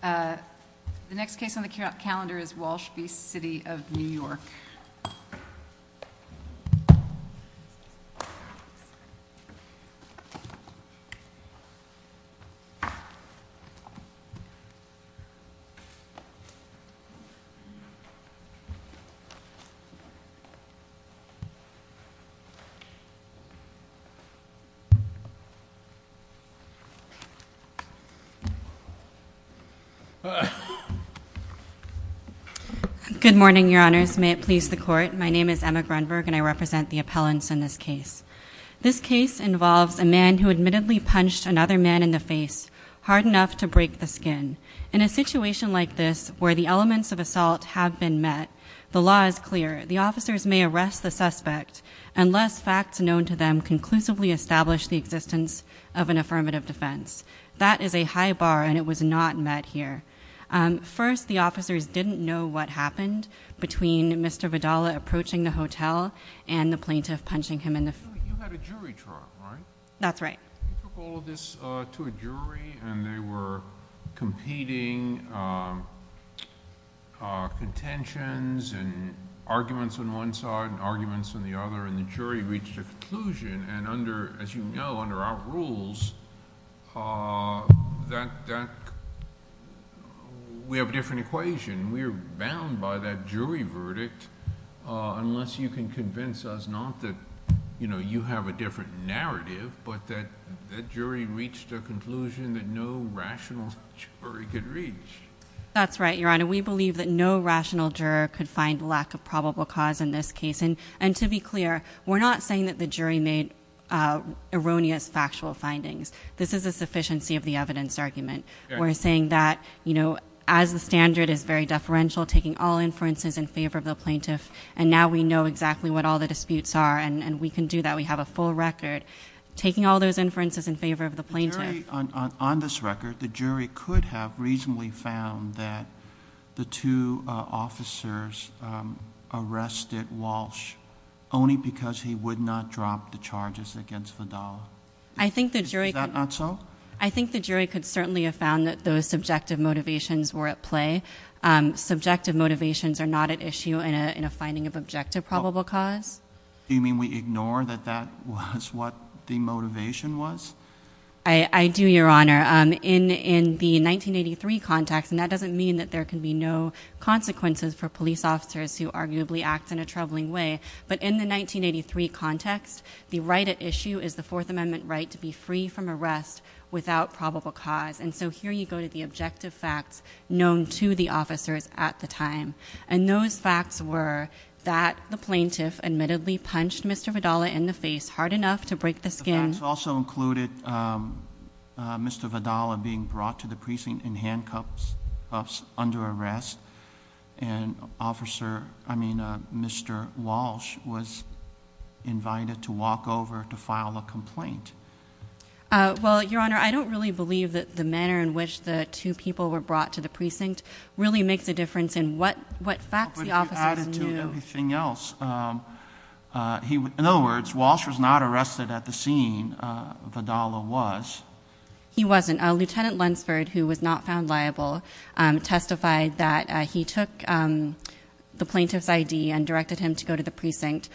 The next case on the calendar is Walsh v. The City of New York Good morning, Your Honors. May it please the Court, my name is Emma Grunberg and I represent the appellants in this case. This case involves a man who admittedly punched another man in the face, hard enough to break the skin. In a situation like this, where the elements of assault have been met, the law is clear. The officers may arrest the suspect unless facts known to them conclusively establish the existence of an affirmative defense. That is a high bar and it was not met here. First, the officers didn't know what happened between Mr. Vidal approaching the hotel and the plaintiff punching him in the face. You had a jury trial, right? That's right. You took all of this to a jury and they were competing contentions and arguments on one side and arguments on the other and the jury reached a conclusion and as you know, under our rules, we have a different equation. We are bound by that jury verdict unless you can convince us not that you have a different narrative, but that jury reached a conclusion that no rational jury could reach. That's right, Your Honor. We believe that no rational juror could find lack of probable cause in this case. To be clear, we're not saying that the jury made erroneous factual findings. This is a sufficiency of the evidence argument. We're saying that as the standard is very deferential, taking all inferences in favor of the plaintiff and now we know exactly what all the disputes are and we can do that. We have a full record. Taking all those inferences in favor of the plaintiff- only because he would not drop the charges against Vidal. Is that not so? I think the jury could certainly have found that those subjective motivations were at play. Subjective motivations are not at issue in a finding of objective probable cause. Do you mean we ignore that that was what the motivation was? I do, Your Honor. In the 1983 context, and that doesn't mean that there can be no consequences for police officers who arguably act in a troubling way, but in the 1983 context, the right at issue is the Fourth Amendment right to be free from arrest without probable cause. And so here you go to the objective facts known to the officers at the time. And those facts were that the plaintiff admittedly punched Mr. Vidal in the face hard enough to break the skin. Those facts also included Mr. Vidal being brought to the precinct in handcuffs under arrest and Mr. Walsh was invited to walk over to file a complaint. Well, Your Honor, I don't really believe that the manner in which the two people were brought to the precinct really makes a difference in what facts the officers knew. But he added to everything else. In other words, Walsh was not arrested at the scene. Vidal was. He wasn't. Lieutenant Lunsford, who was not found liable, testified that he took the plaintiff's ID and directed him to go to the precinct.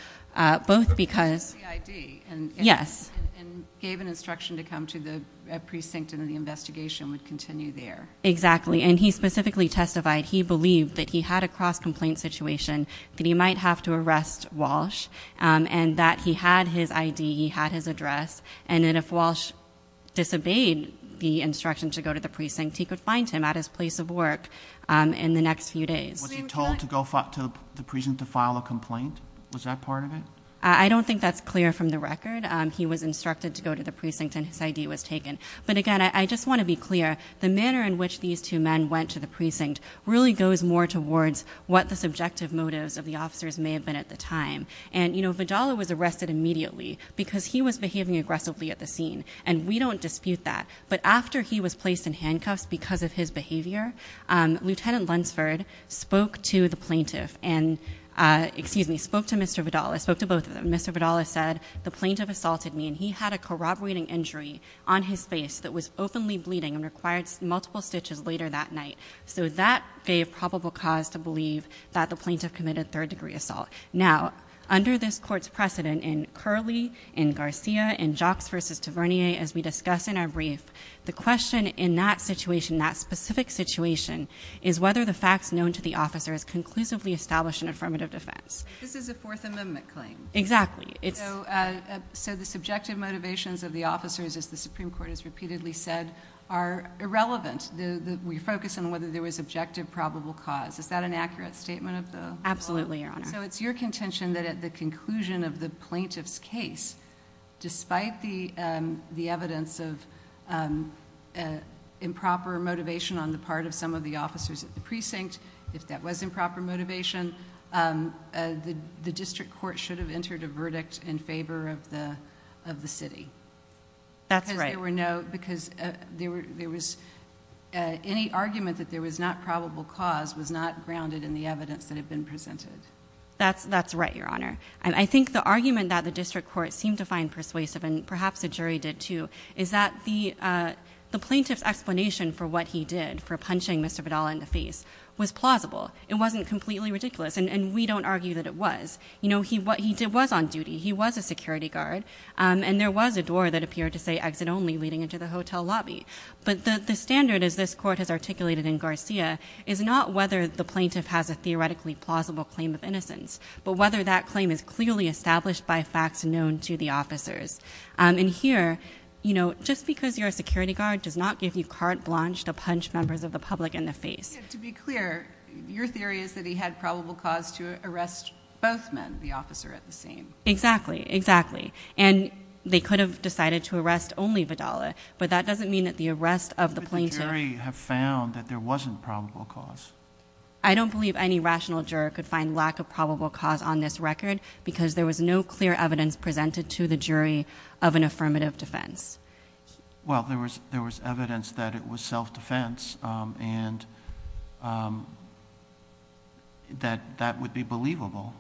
Both because- He took the ID. Yes. And gave an instruction to come to the precinct and the investigation would continue there. Exactly. And he specifically testified he believed that he had a cross-complaint situation, that he might have to arrest Walsh, and that he had his ID, he had his address, and that if Walsh disobeyed the instruction to go to the precinct, he could find him at his place of work in the next few days. Was he told to go to the precinct to file a complaint? Was that part of it? I don't think that's clear from the record. He was instructed to go to the precinct and his ID was taken. But, again, I just want to be clear. The manner in which these two men went to the precinct really goes more towards what the subjective motives of the officers may have been at the time. And, you know, Vidal was arrested immediately because he was behaving aggressively at the scene. And we don't dispute that. But after he was placed in handcuffs because of his behavior, Lieutenant Lunsford spoke to the plaintiff. And, excuse me, spoke to Mr. Vidal. I spoke to both of them. And Mr. Vidal has said, the plaintiff assaulted me. And he had a corroborating injury on his face that was openly bleeding and required multiple stitches later that night. So that gave probable cause to believe that the plaintiff committed third-degree assault. Now, under this court's precedent in Curley, in Garcia, in Jocks v. Tavernier, as we discuss in our brief, the question in that situation, that specific situation, is whether the facts known to the officer is conclusively established in affirmative defense. This is a Fourth Amendment claim. Exactly. So the subjective motivations of the officers, as the Supreme Court has repeatedly said, are irrelevant. We focus on whether there was objective probable cause. Is that an accurate statement of the law? Absolutely, Your Honor. So it's your contention that at the conclusion of the plaintiff's case, despite the evidence of improper motivation on the part of some of the officers at the precinct, if that was improper motivation, the district court should have entered a verdict in favor of the city. That's right. Because any argument that there was not probable cause was not grounded in the evidence that had been presented. That's right, Your Honor. And I think the argument that the district court seemed to find persuasive, and perhaps the jury did too, is that the plaintiff's explanation for what he did, for punching Mr. Vidal in the face, was plausible. It wasn't completely ridiculous, and we don't argue that it was. He was on duty. He was a security guard. And there was a door that appeared to say, exit only, leading into the hotel lobby. But the standard, as this court has articulated in Garcia, is not whether the plaintiff has a theoretically plausible claim of innocence, but whether that claim is clearly established by facts known to the officers. And here, you know, just because you're a security guard does not give you carte blanche to punch members of the public in the face. To be clear, your theory is that he had probable cause to arrest both men, the officer at the scene. Exactly. Exactly. And they could have decided to arrest only Vidal, but that doesn't mean that the arrest of the plaintiff… But the jury have found that there wasn't probable cause. I don't believe any rational juror could find lack of probable cause on this record because there was no clear evidence presented to the jury of an affirmative defense. Well, there was evidence that it was self-defense and that that would be believable.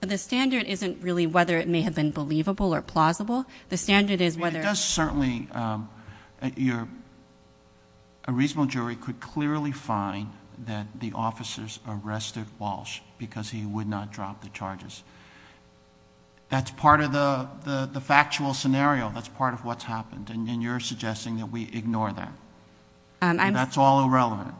But the standard isn't really whether it may have been believable or plausible. The standard is whether… Certainly, a reasonable jury could clearly find that the officers arrested Walsh because he would not drop the charges. That's part of the factual scenario. That's part of what's happened, and you're suggesting that we ignore that. That's all irrelevant.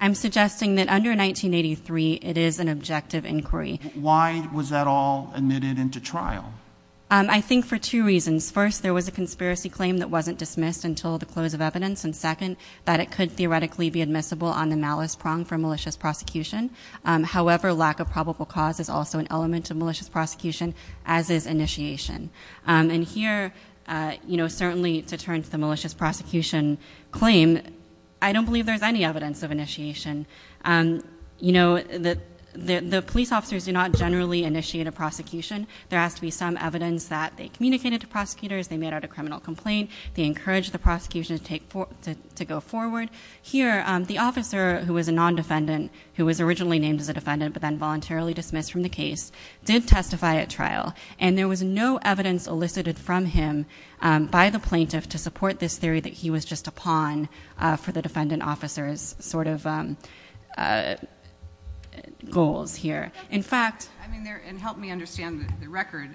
I'm suggesting that under 1983, it is an objective inquiry. Why was that all admitted into trial? I think for two reasons. First, there was a conspiracy claim that wasn't dismissed until the close of evidence, and second, that it could theoretically be admissible on the malice prong for malicious prosecution. However, lack of probable cause is also an element of malicious prosecution, as is initiation. And here, certainly to turn to the malicious prosecution claim, I don't believe there's any evidence of initiation. The police officers do not generally initiate a prosecution. There has to be some evidence that they communicated to prosecutors, they made out a criminal complaint, they encouraged the prosecution to go forward. Here, the officer who was a non-defendant, who was originally named as a defendant but then voluntarily dismissed from the case, did testify at trial, and there was no evidence elicited from him by the plaintiff to support this theory that he was just a pawn for the defendant officer's sort of goals here. And help me understand the record.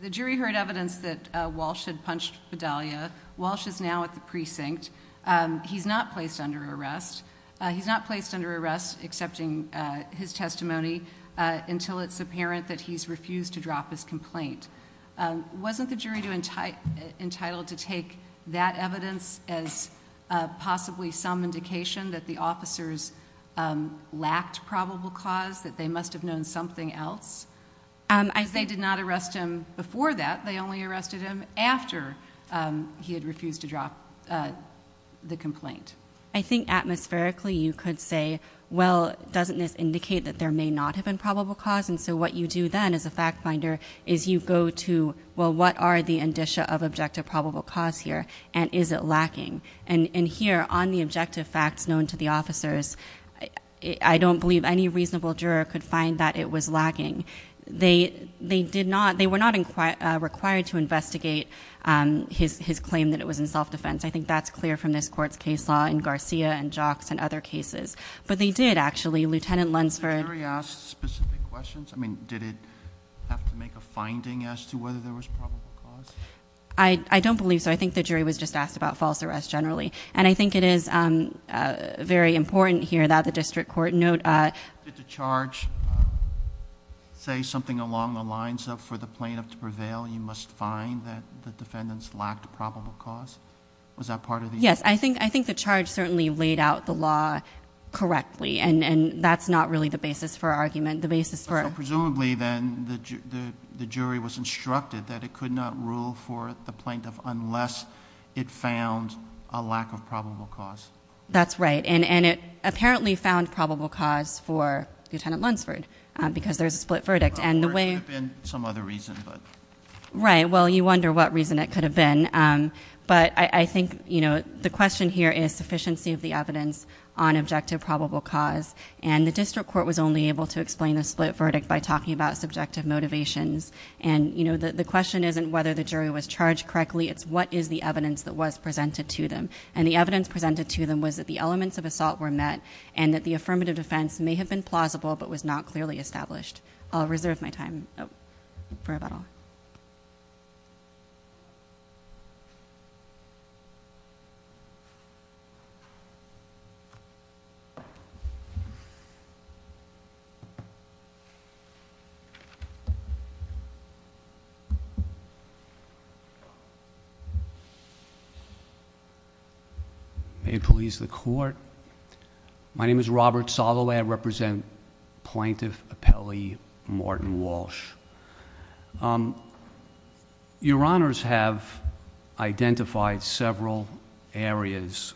The jury heard evidence that Walsh had punched Bedalia. Walsh is now at the precinct. He's not placed under arrest. He's not placed under arrest, accepting his testimony, until it's apparent that he's refused to drop his complaint. Wasn't the jury entitled to take that evidence as possibly some indication that the officers lacked probable cause, that they must have known something else? Because they did not arrest him before that. They only arrested him after he had refused to drop the complaint. I think, atmospherically, you could say, well, doesn't this indicate that there may not have been probable cause? And so what you do then, as a fact finder, is you go to, well, what are the indicia of objective probable cause here, and is it lacking? And here, on the objective facts known to the officers, I don't believe any reasonable juror could find that it was lacking. They were not required to investigate his claim that it was in self-defense. I think that's clear from this court's case law in Garcia and Jocks and other cases. But they did, actually. Lieutenant Lunsford- Did the jury ask specific questions? I mean, did it have to make a finding as to whether there was probable cause? I don't believe so. I think the jury was just asked about false arrest generally. And I think it is very important here that the district court note- Did the charge say something along the lines of, for the plaintiff to prevail, you must find that the defendants lacked probable cause? Was that part of the- Yes, I think the charge certainly laid out the law correctly. And that's not really the basis for argument. The basis for- So presumably, then, the jury was instructed that it could not rule for the plaintiff unless it found a lack of probable cause. That's right. And it apparently found probable cause for Lieutenant Lunsford, because there's a split verdict. And the way- There could have been some other reason, but- Right. Well, you wonder what reason it could have been. But I think the question here is sufficiency of the evidence on objective probable cause. And the district court was only able to explain the split verdict by talking about subjective motivations. And the question isn't whether the jury was charged correctly. It's what is the evidence that was presented to them. And the evidence presented to them was that the elements of assault were met and that the affirmative defense may have been plausible but was not clearly established. I'll reserve my time for rebuttal. Thank you. May it please the court. My name is Robert Soloway. I represent Plaintiff Appellee Morton Walsh. Your honors have identified several areas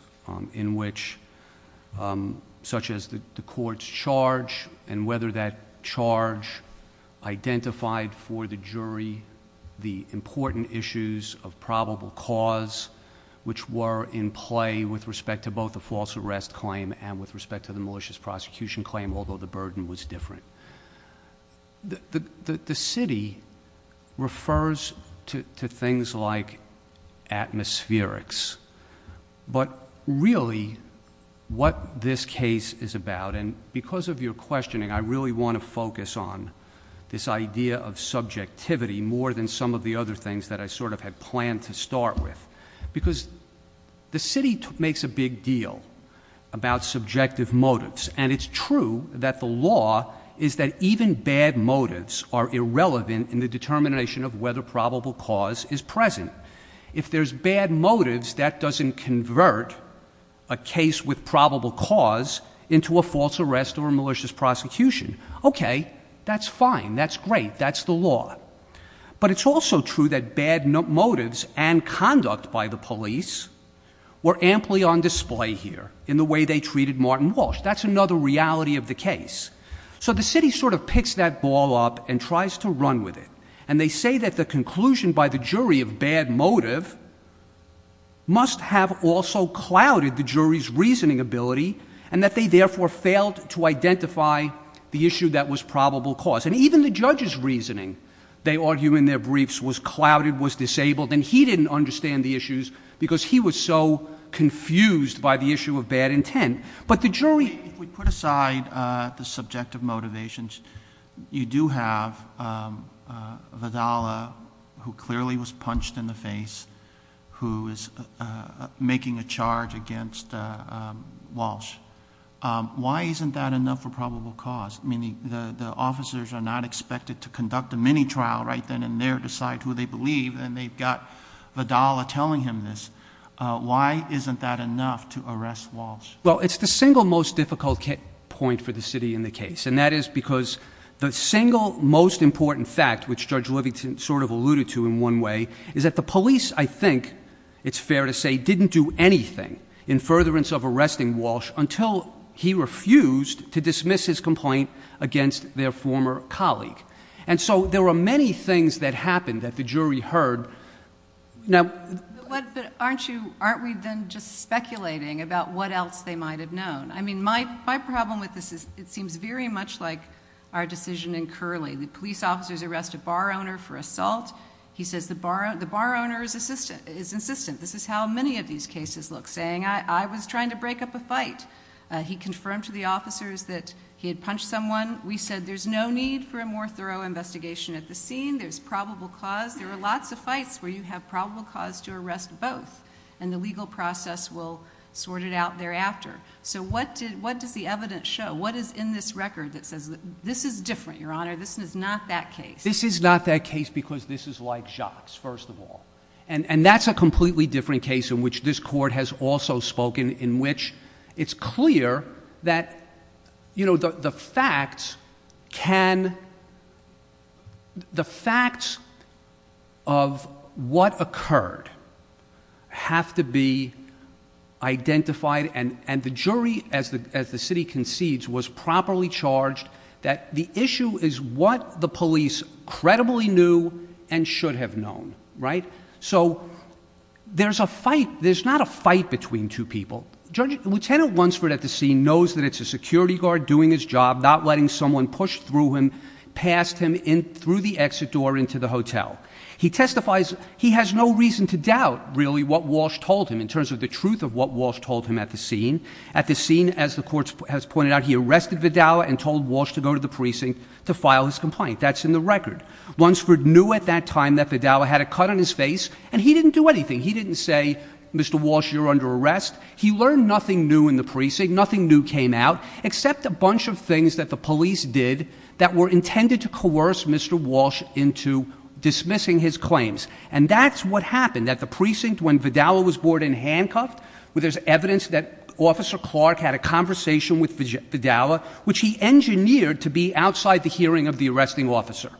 in which, such as the court's charge and whether that charge identified for the jury the important issues of probable cause, which were in play with respect to both the false arrest claim and with respect to the malicious prosecution claim, although the burden was different. The city refers to things like atmospherics. But really, what this case is about, and because of your questioning, I really want to focus on this idea of subjectivity more than some of the other things that I sort of had planned to start with. Because the city makes a big deal about subjective motives. And it's true that the law is that even bad motives are irrelevant in the determination of whether probable cause is present. If there's bad motives, that doesn't convert a case with probable cause into a false arrest or a malicious prosecution. Okay, that's fine. That's great. That's the law. But it's also true that bad motives and conduct by the police were amply on display here in the way they treated Morton Walsh. That's another reality of the case. So the city sort of picks that ball up and tries to run with it. And they say that the conclusion by the jury of bad motive must have also clouded the jury's reasoning ability and that they therefore failed to identify the issue that was probable cause. And even the judge's reasoning, they argue in their briefs, was clouded, was disabled, and he didn't understand the issues because he was so confused by the issue of bad intent. But the jury— If we put aside the subjective motivations, you do have Vidala, who clearly was punched in the face, who is making a charge against Walsh. Why isn't that enough for probable cause? I mean, the officers are not expected to conduct a mini-trial right then and there, decide who they believe, and they've got Vidala telling him this. Why isn't that enough to arrest Walsh? Well, it's the single most difficult point for the city in the case. And that is because the single most important fact, which Judge Livington sort of alluded to in one way, is that the police, I think it's fair to say, didn't do anything in furtherance of arresting Walsh until he refused to dismiss his complaint against their former colleague. And so there were many things that happened that the jury heard. Now— But aren't you—aren't we then just speculating about what else they might have known? I mean, my problem with this is it seems very much like our decision in Curley. The police officers arrest a bar owner for assault. He says the bar owner is insistent. This is how many of these cases look, saying, I was trying to break up a fight. He confirmed to the officers that he had punched someone. We said there's no need for a more thorough investigation at this scene. There's probable cause. There are lots of fights where you have probable cause to arrest both, and the legal process will sort it out thereafter. So what does the evidence show? What is in this record that says this is different, Your Honor? This is not that case. This is not that case because this is like Jacques, first of all. And that's a completely different case in which this court has also spoken, in which it's clear that, you know, the facts can— the facts of what occurred have to be identified, and the jury, as the city concedes, was properly charged that the issue is what the police credibly knew and should have known, right? So there's a fight. There's not a fight between two people. Lieutenant Lunsford at the scene knows that it's a security guard doing his job, not letting someone push through him, past him, through the exit door into the hotel. He testifies—he has no reason to doubt, really, what Walsh told him in terms of the truth of what Walsh told him at the scene. At the scene, as the court has pointed out, he arrested Vidal and told Walsh to go to the precinct to file his complaint. That's in the record. Lunsford knew at that time that Vidal had a cut on his face, and he didn't do anything. He didn't say, Mr. Walsh, you're under arrest. He learned nothing new in the precinct, nothing new came out, except a bunch of things that the police did that were intended to coerce Mr. Walsh into dismissing his claims. And that's what happened at the precinct when Vidal was brought in handcuffed. There's evidence that Officer Clark had a conversation with Vidal, which he engineered to be outside the hearing of the arresting officer.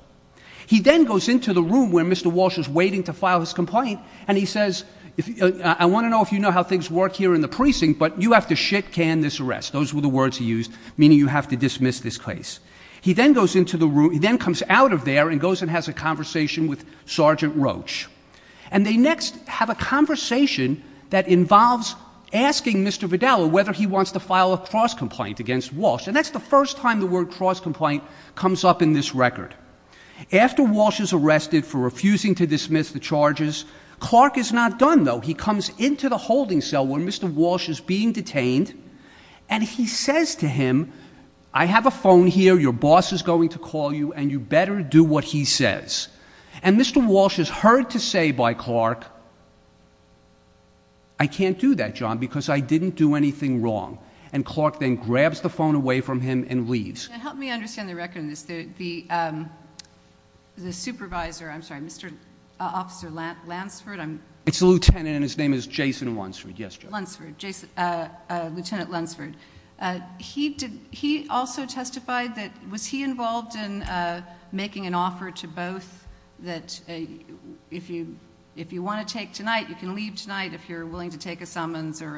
He then goes into the room where Mr. Walsh was waiting to file his complaint, and he says, I want to know if you know how things work here in the precinct, but you have to shit-can this arrest. Those were the words he used, meaning you have to dismiss this case. He then comes out of there and goes and has a conversation with Sergeant Roach. And they next have a conversation that involves asking Mr. Vidal whether he wants to file a cross-complaint against Walsh, and that's the first time the word cross-complaint comes up in this record. After Walsh is arrested for refusing to dismiss the charges, Clark is not done, though. He comes into the holding cell where Mr. Walsh is being detained, and he says to him, I have a phone here, your boss is going to call you, and you better do what he says. And Mr. Walsh is heard to say by Clark, I can't do that, John, because I didn't do anything wrong. And Clark then grabs the phone away from him and leaves. Help me understand the record on this. The supervisor, I'm sorry, Mr. Officer Lansford. It's a lieutenant, and his name is Jason Lunsford. Yes, John. Lunsford, Lieutenant Lunsford. He also testified that, was he involved in making an offer to both that if you want to take tonight, you can leave tonight if you're willing to take a summons or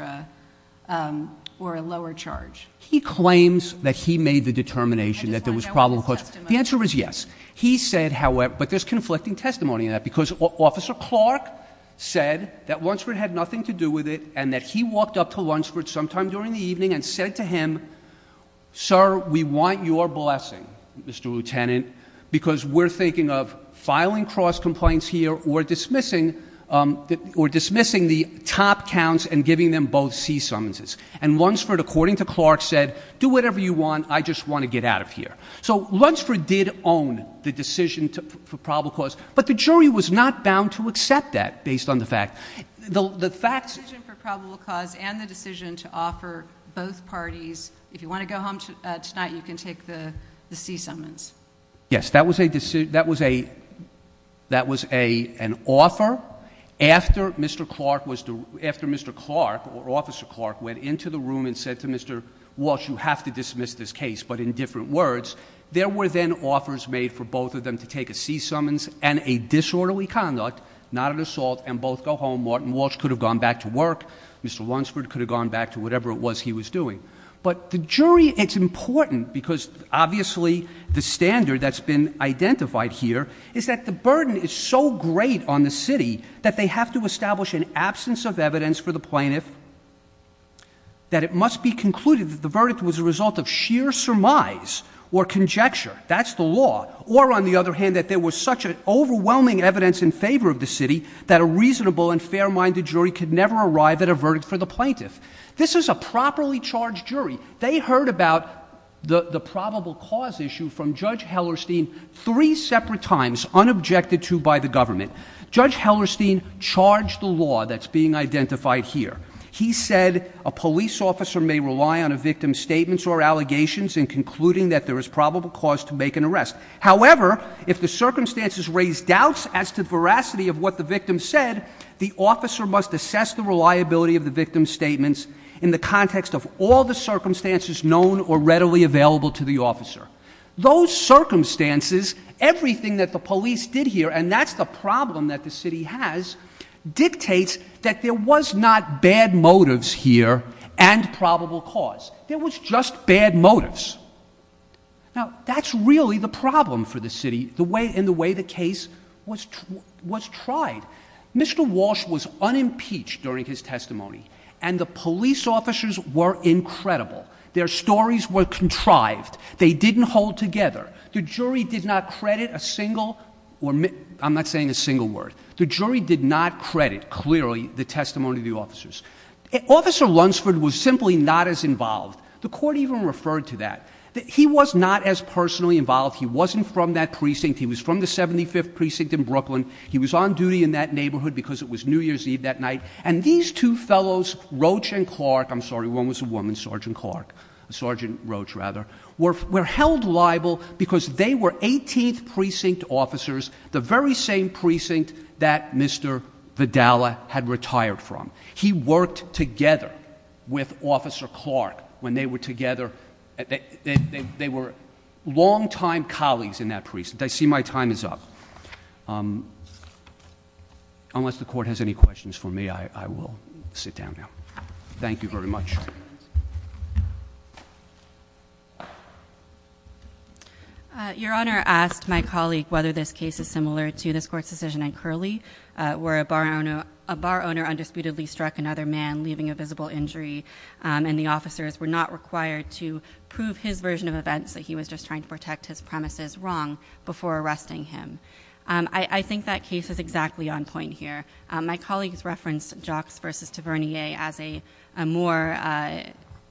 a lower charge? He claims that he made the determination that there was a problem. The answer is yes. He said, however, but there's conflicting testimony in that because Officer Clark said that Lunsford had nothing to do with it and that he walked up to Lunsford sometime during the evening and said to him, sir, we want your blessing, Mr. Lieutenant, because we're thinking of filing cross complaints here or dismissing or dismissing the top counts and giving them both sea summonses. And Lunsford, according to Clark, said, do whatever you want. I just want to get out of here. So Lunsford did own the decision for probable cause. But the jury was not bound to accept that based on the fact the facts for probable cause and the decision to offer both parties. If you want to go home tonight, you can take the sea summons. Yes, that was an offer. After Mr. Clark, or Officer Clark, went into the room and said to Mr. Walsh, you have to dismiss this case, but in different words. There were then offers made for both of them to take a sea summons and a disorderly conduct, not an assault, and both go home. Martin Walsh could have gone back to work. Mr. Lunsford could have gone back to whatever it was he was doing. But the jury, it's important because obviously the standard that's been identified here is that the burden is so great on the city that they have to establish an absence of evidence for the plaintiff. That it must be concluded that the verdict was a result of sheer surmise or conjecture. That's the law. Or, on the other hand, that there was such an overwhelming evidence in favor of the city that a reasonable and fair-minded jury could never arrive at a verdict for the plaintiff. This is a properly charged jury. They heard about the probable cause issue from Judge Hellerstein three separate times, unobjected to by the government. Judge Hellerstein charged the law that's being identified here. He said a police officer may rely on a victim's statements or allegations in concluding that there is probable cause to make an arrest. However, if the circumstances raise doubts as to the veracity of what the victim said, the officer must assess the reliability of the victim's statements in the context of all the circumstances known or readily available to the officer. Those circumstances, everything that the police did here, and that's the problem that the city has, dictates that there was not bad motives here and probable cause. There was just bad motives. Now, that's really the problem for the city in the way the case was tried. Mr. Walsh was unimpeached during his testimony, and the police officers were incredible. Their stories were contrived. They didn't hold together. The jury did not credit a single—I'm not saying a single word. The jury did not credit, clearly, the testimony of the officers. Officer Lunsford was simply not as involved. The court even referred to that. He was not as personally involved. He wasn't from that precinct. He was from the 75th Precinct in Brooklyn. He was on duty in that neighborhood because it was New Year's Eve that night. And these two fellows, Roach and Clark—I'm sorry, one was a woman, Sergeant Clark, Sergeant Roach, rather—were held liable because they were 18th Precinct officers, the very same precinct that Mr. Vidala had retired from. He worked together with Officer Clark when they were together. They were longtime colleagues in that precinct. I see my time is up. Unless the court has any questions for me, I will sit down now. Thank you very much. Your Honor, I asked my colleague whether this case is similar to this court's decision in Curley, where a bar owner undisputedly struck another man, leaving a visible injury, and the officers were not required to prove his version of events, that he was just trying to protect his premises, wrong, before arresting him. I think that case is exactly on point here. My colleagues referenced Jocks v. Tavernier as a more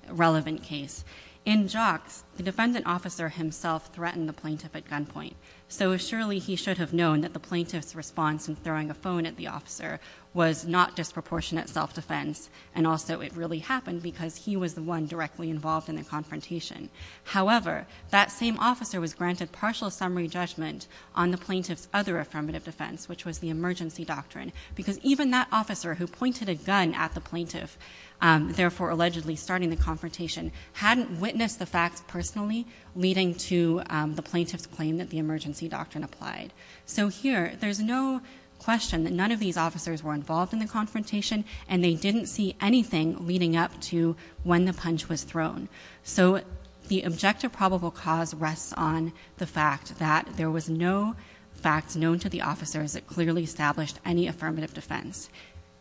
relevant case. In Jocks, the defendant officer himself threatened the plaintiff at gunpoint, so surely he should have known that the plaintiff's response in throwing a phone at the officer was not disproportionate self-defense, and also it really happened because he was the one directly involved in the confrontation. However, that same officer was granted partial summary judgment on the plaintiff's other affirmative defense, which was the emergency doctrine, because even that officer who pointed a gun at the plaintiff, therefore allegedly starting the confrontation, hadn't witnessed the facts personally leading to the plaintiff's claim that the emergency doctrine applied. So here, there's no question that none of these officers were involved in the confrontation, and they didn't see anything leading up to when the punch was thrown. So the objective probable cause rests on the fact that there was no fact known to the officers that clearly established any affirmative defense.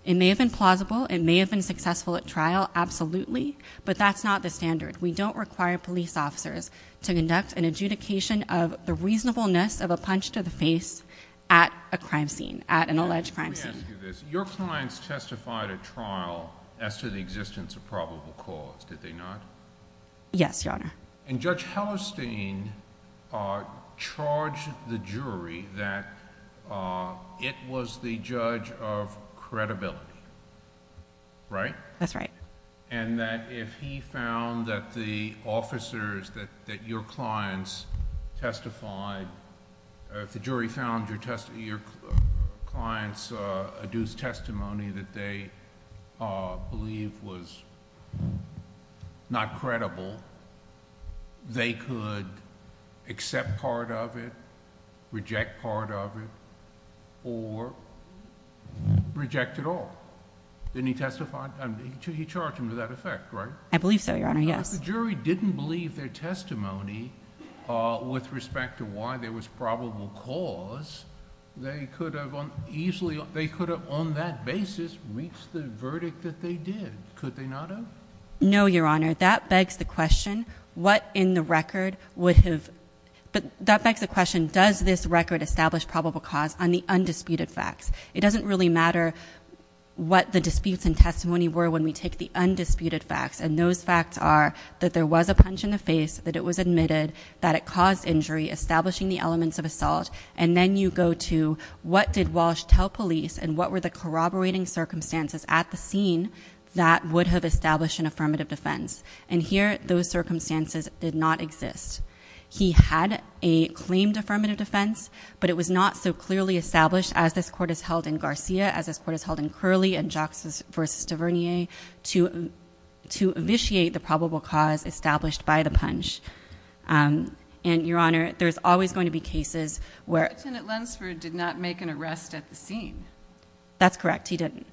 It may have been plausible, it may have been successful at trial, absolutely, but that's not the standard. We don't require police officers to conduct an adjudication of the reasonableness of a punch to the face at a crime scene, at an alleged crime scene. Your clients testified at trial as to the existence of probable cause, did they not? Yes, Your Honor. And Judge Hallerstein charged the jury that it was the judge of credibility, right? That's right. And that if he found that the officers, that your clients testified, if the jury found your client's adduced testimony that they believe was not credible, they could accept part of it, reject part of it, or reject it all. Didn't he testify? He charged them to that effect, right? I believe so, Your Honor, yes. If the jury didn't believe their testimony with respect to why there was probable cause, they could have on that basis reached the verdict that they did. Could they not have? No, Your Honor. That begs the question, does this record establish probable cause on the undisputed facts? It doesn't really matter what the disputes and testimony were when we take the undisputed facts. And those facts are that there was a punch in the face, that it was admitted, that it caused injury, establishing the elements of assault. And then you go to what did Walsh tell police and what were the corroborating circumstances at the scene that would have established an affirmative defense? And here, those circumstances did not exist. He had a claimed affirmative defense, but it was not so clearly established as this court has held in Garcia, as this court has held in Curley and Jocks v. Duvernier to vitiate the probable cause established by the punch. And, Your Honor, there's always going to be cases where — Lieutenant Lunsford did not make an arrest at the scene. That's correct. He didn't.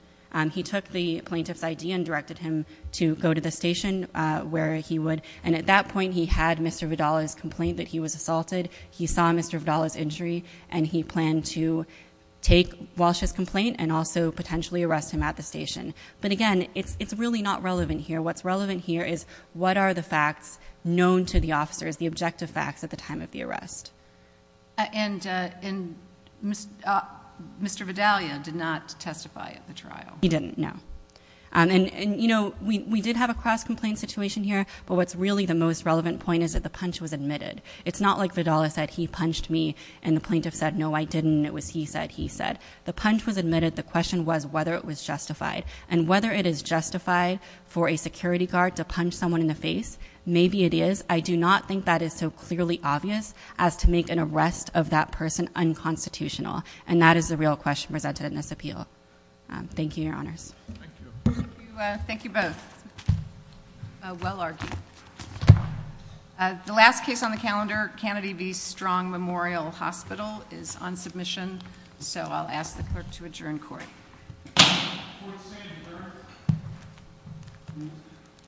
He took the plaintiff's ID and directed him to go to the station where he would. And at that point, he had Mr. Vidala's complaint that he was assaulted. He saw Mr. Vidala's injury, and he planned to take Walsh's complaint and also potentially arrest him at the station. But, again, it's really not relevant here. What's relevant here is what are the facts known to the officers, the objective facts at the time of the arrest. And Mr. Vidalia did not testify at the trial. He didn't, no. And, you know, we did have a cross-complaint situation here, but what's really the most relevant point is that the punch was admitted. It's not like Vidala said, he punched me, and the plaintiff said, no, I didn't, and it was he said, he said. The punch was admitted. The question was whether it was justified. And whether it is justified for a security guard to punch someone in the face, maybe it is. I do not think that is so clearly obvious as to make an arrest of that person unconstitutional. And that is the real question presented in this appeal. Thank you, Your Honors. Thank you. Thank you both. Well argued. The last case on the calendar, Kennedy v. Strong Memorial Hospital, is on submission. So I'll ask the clerk to adjourn court.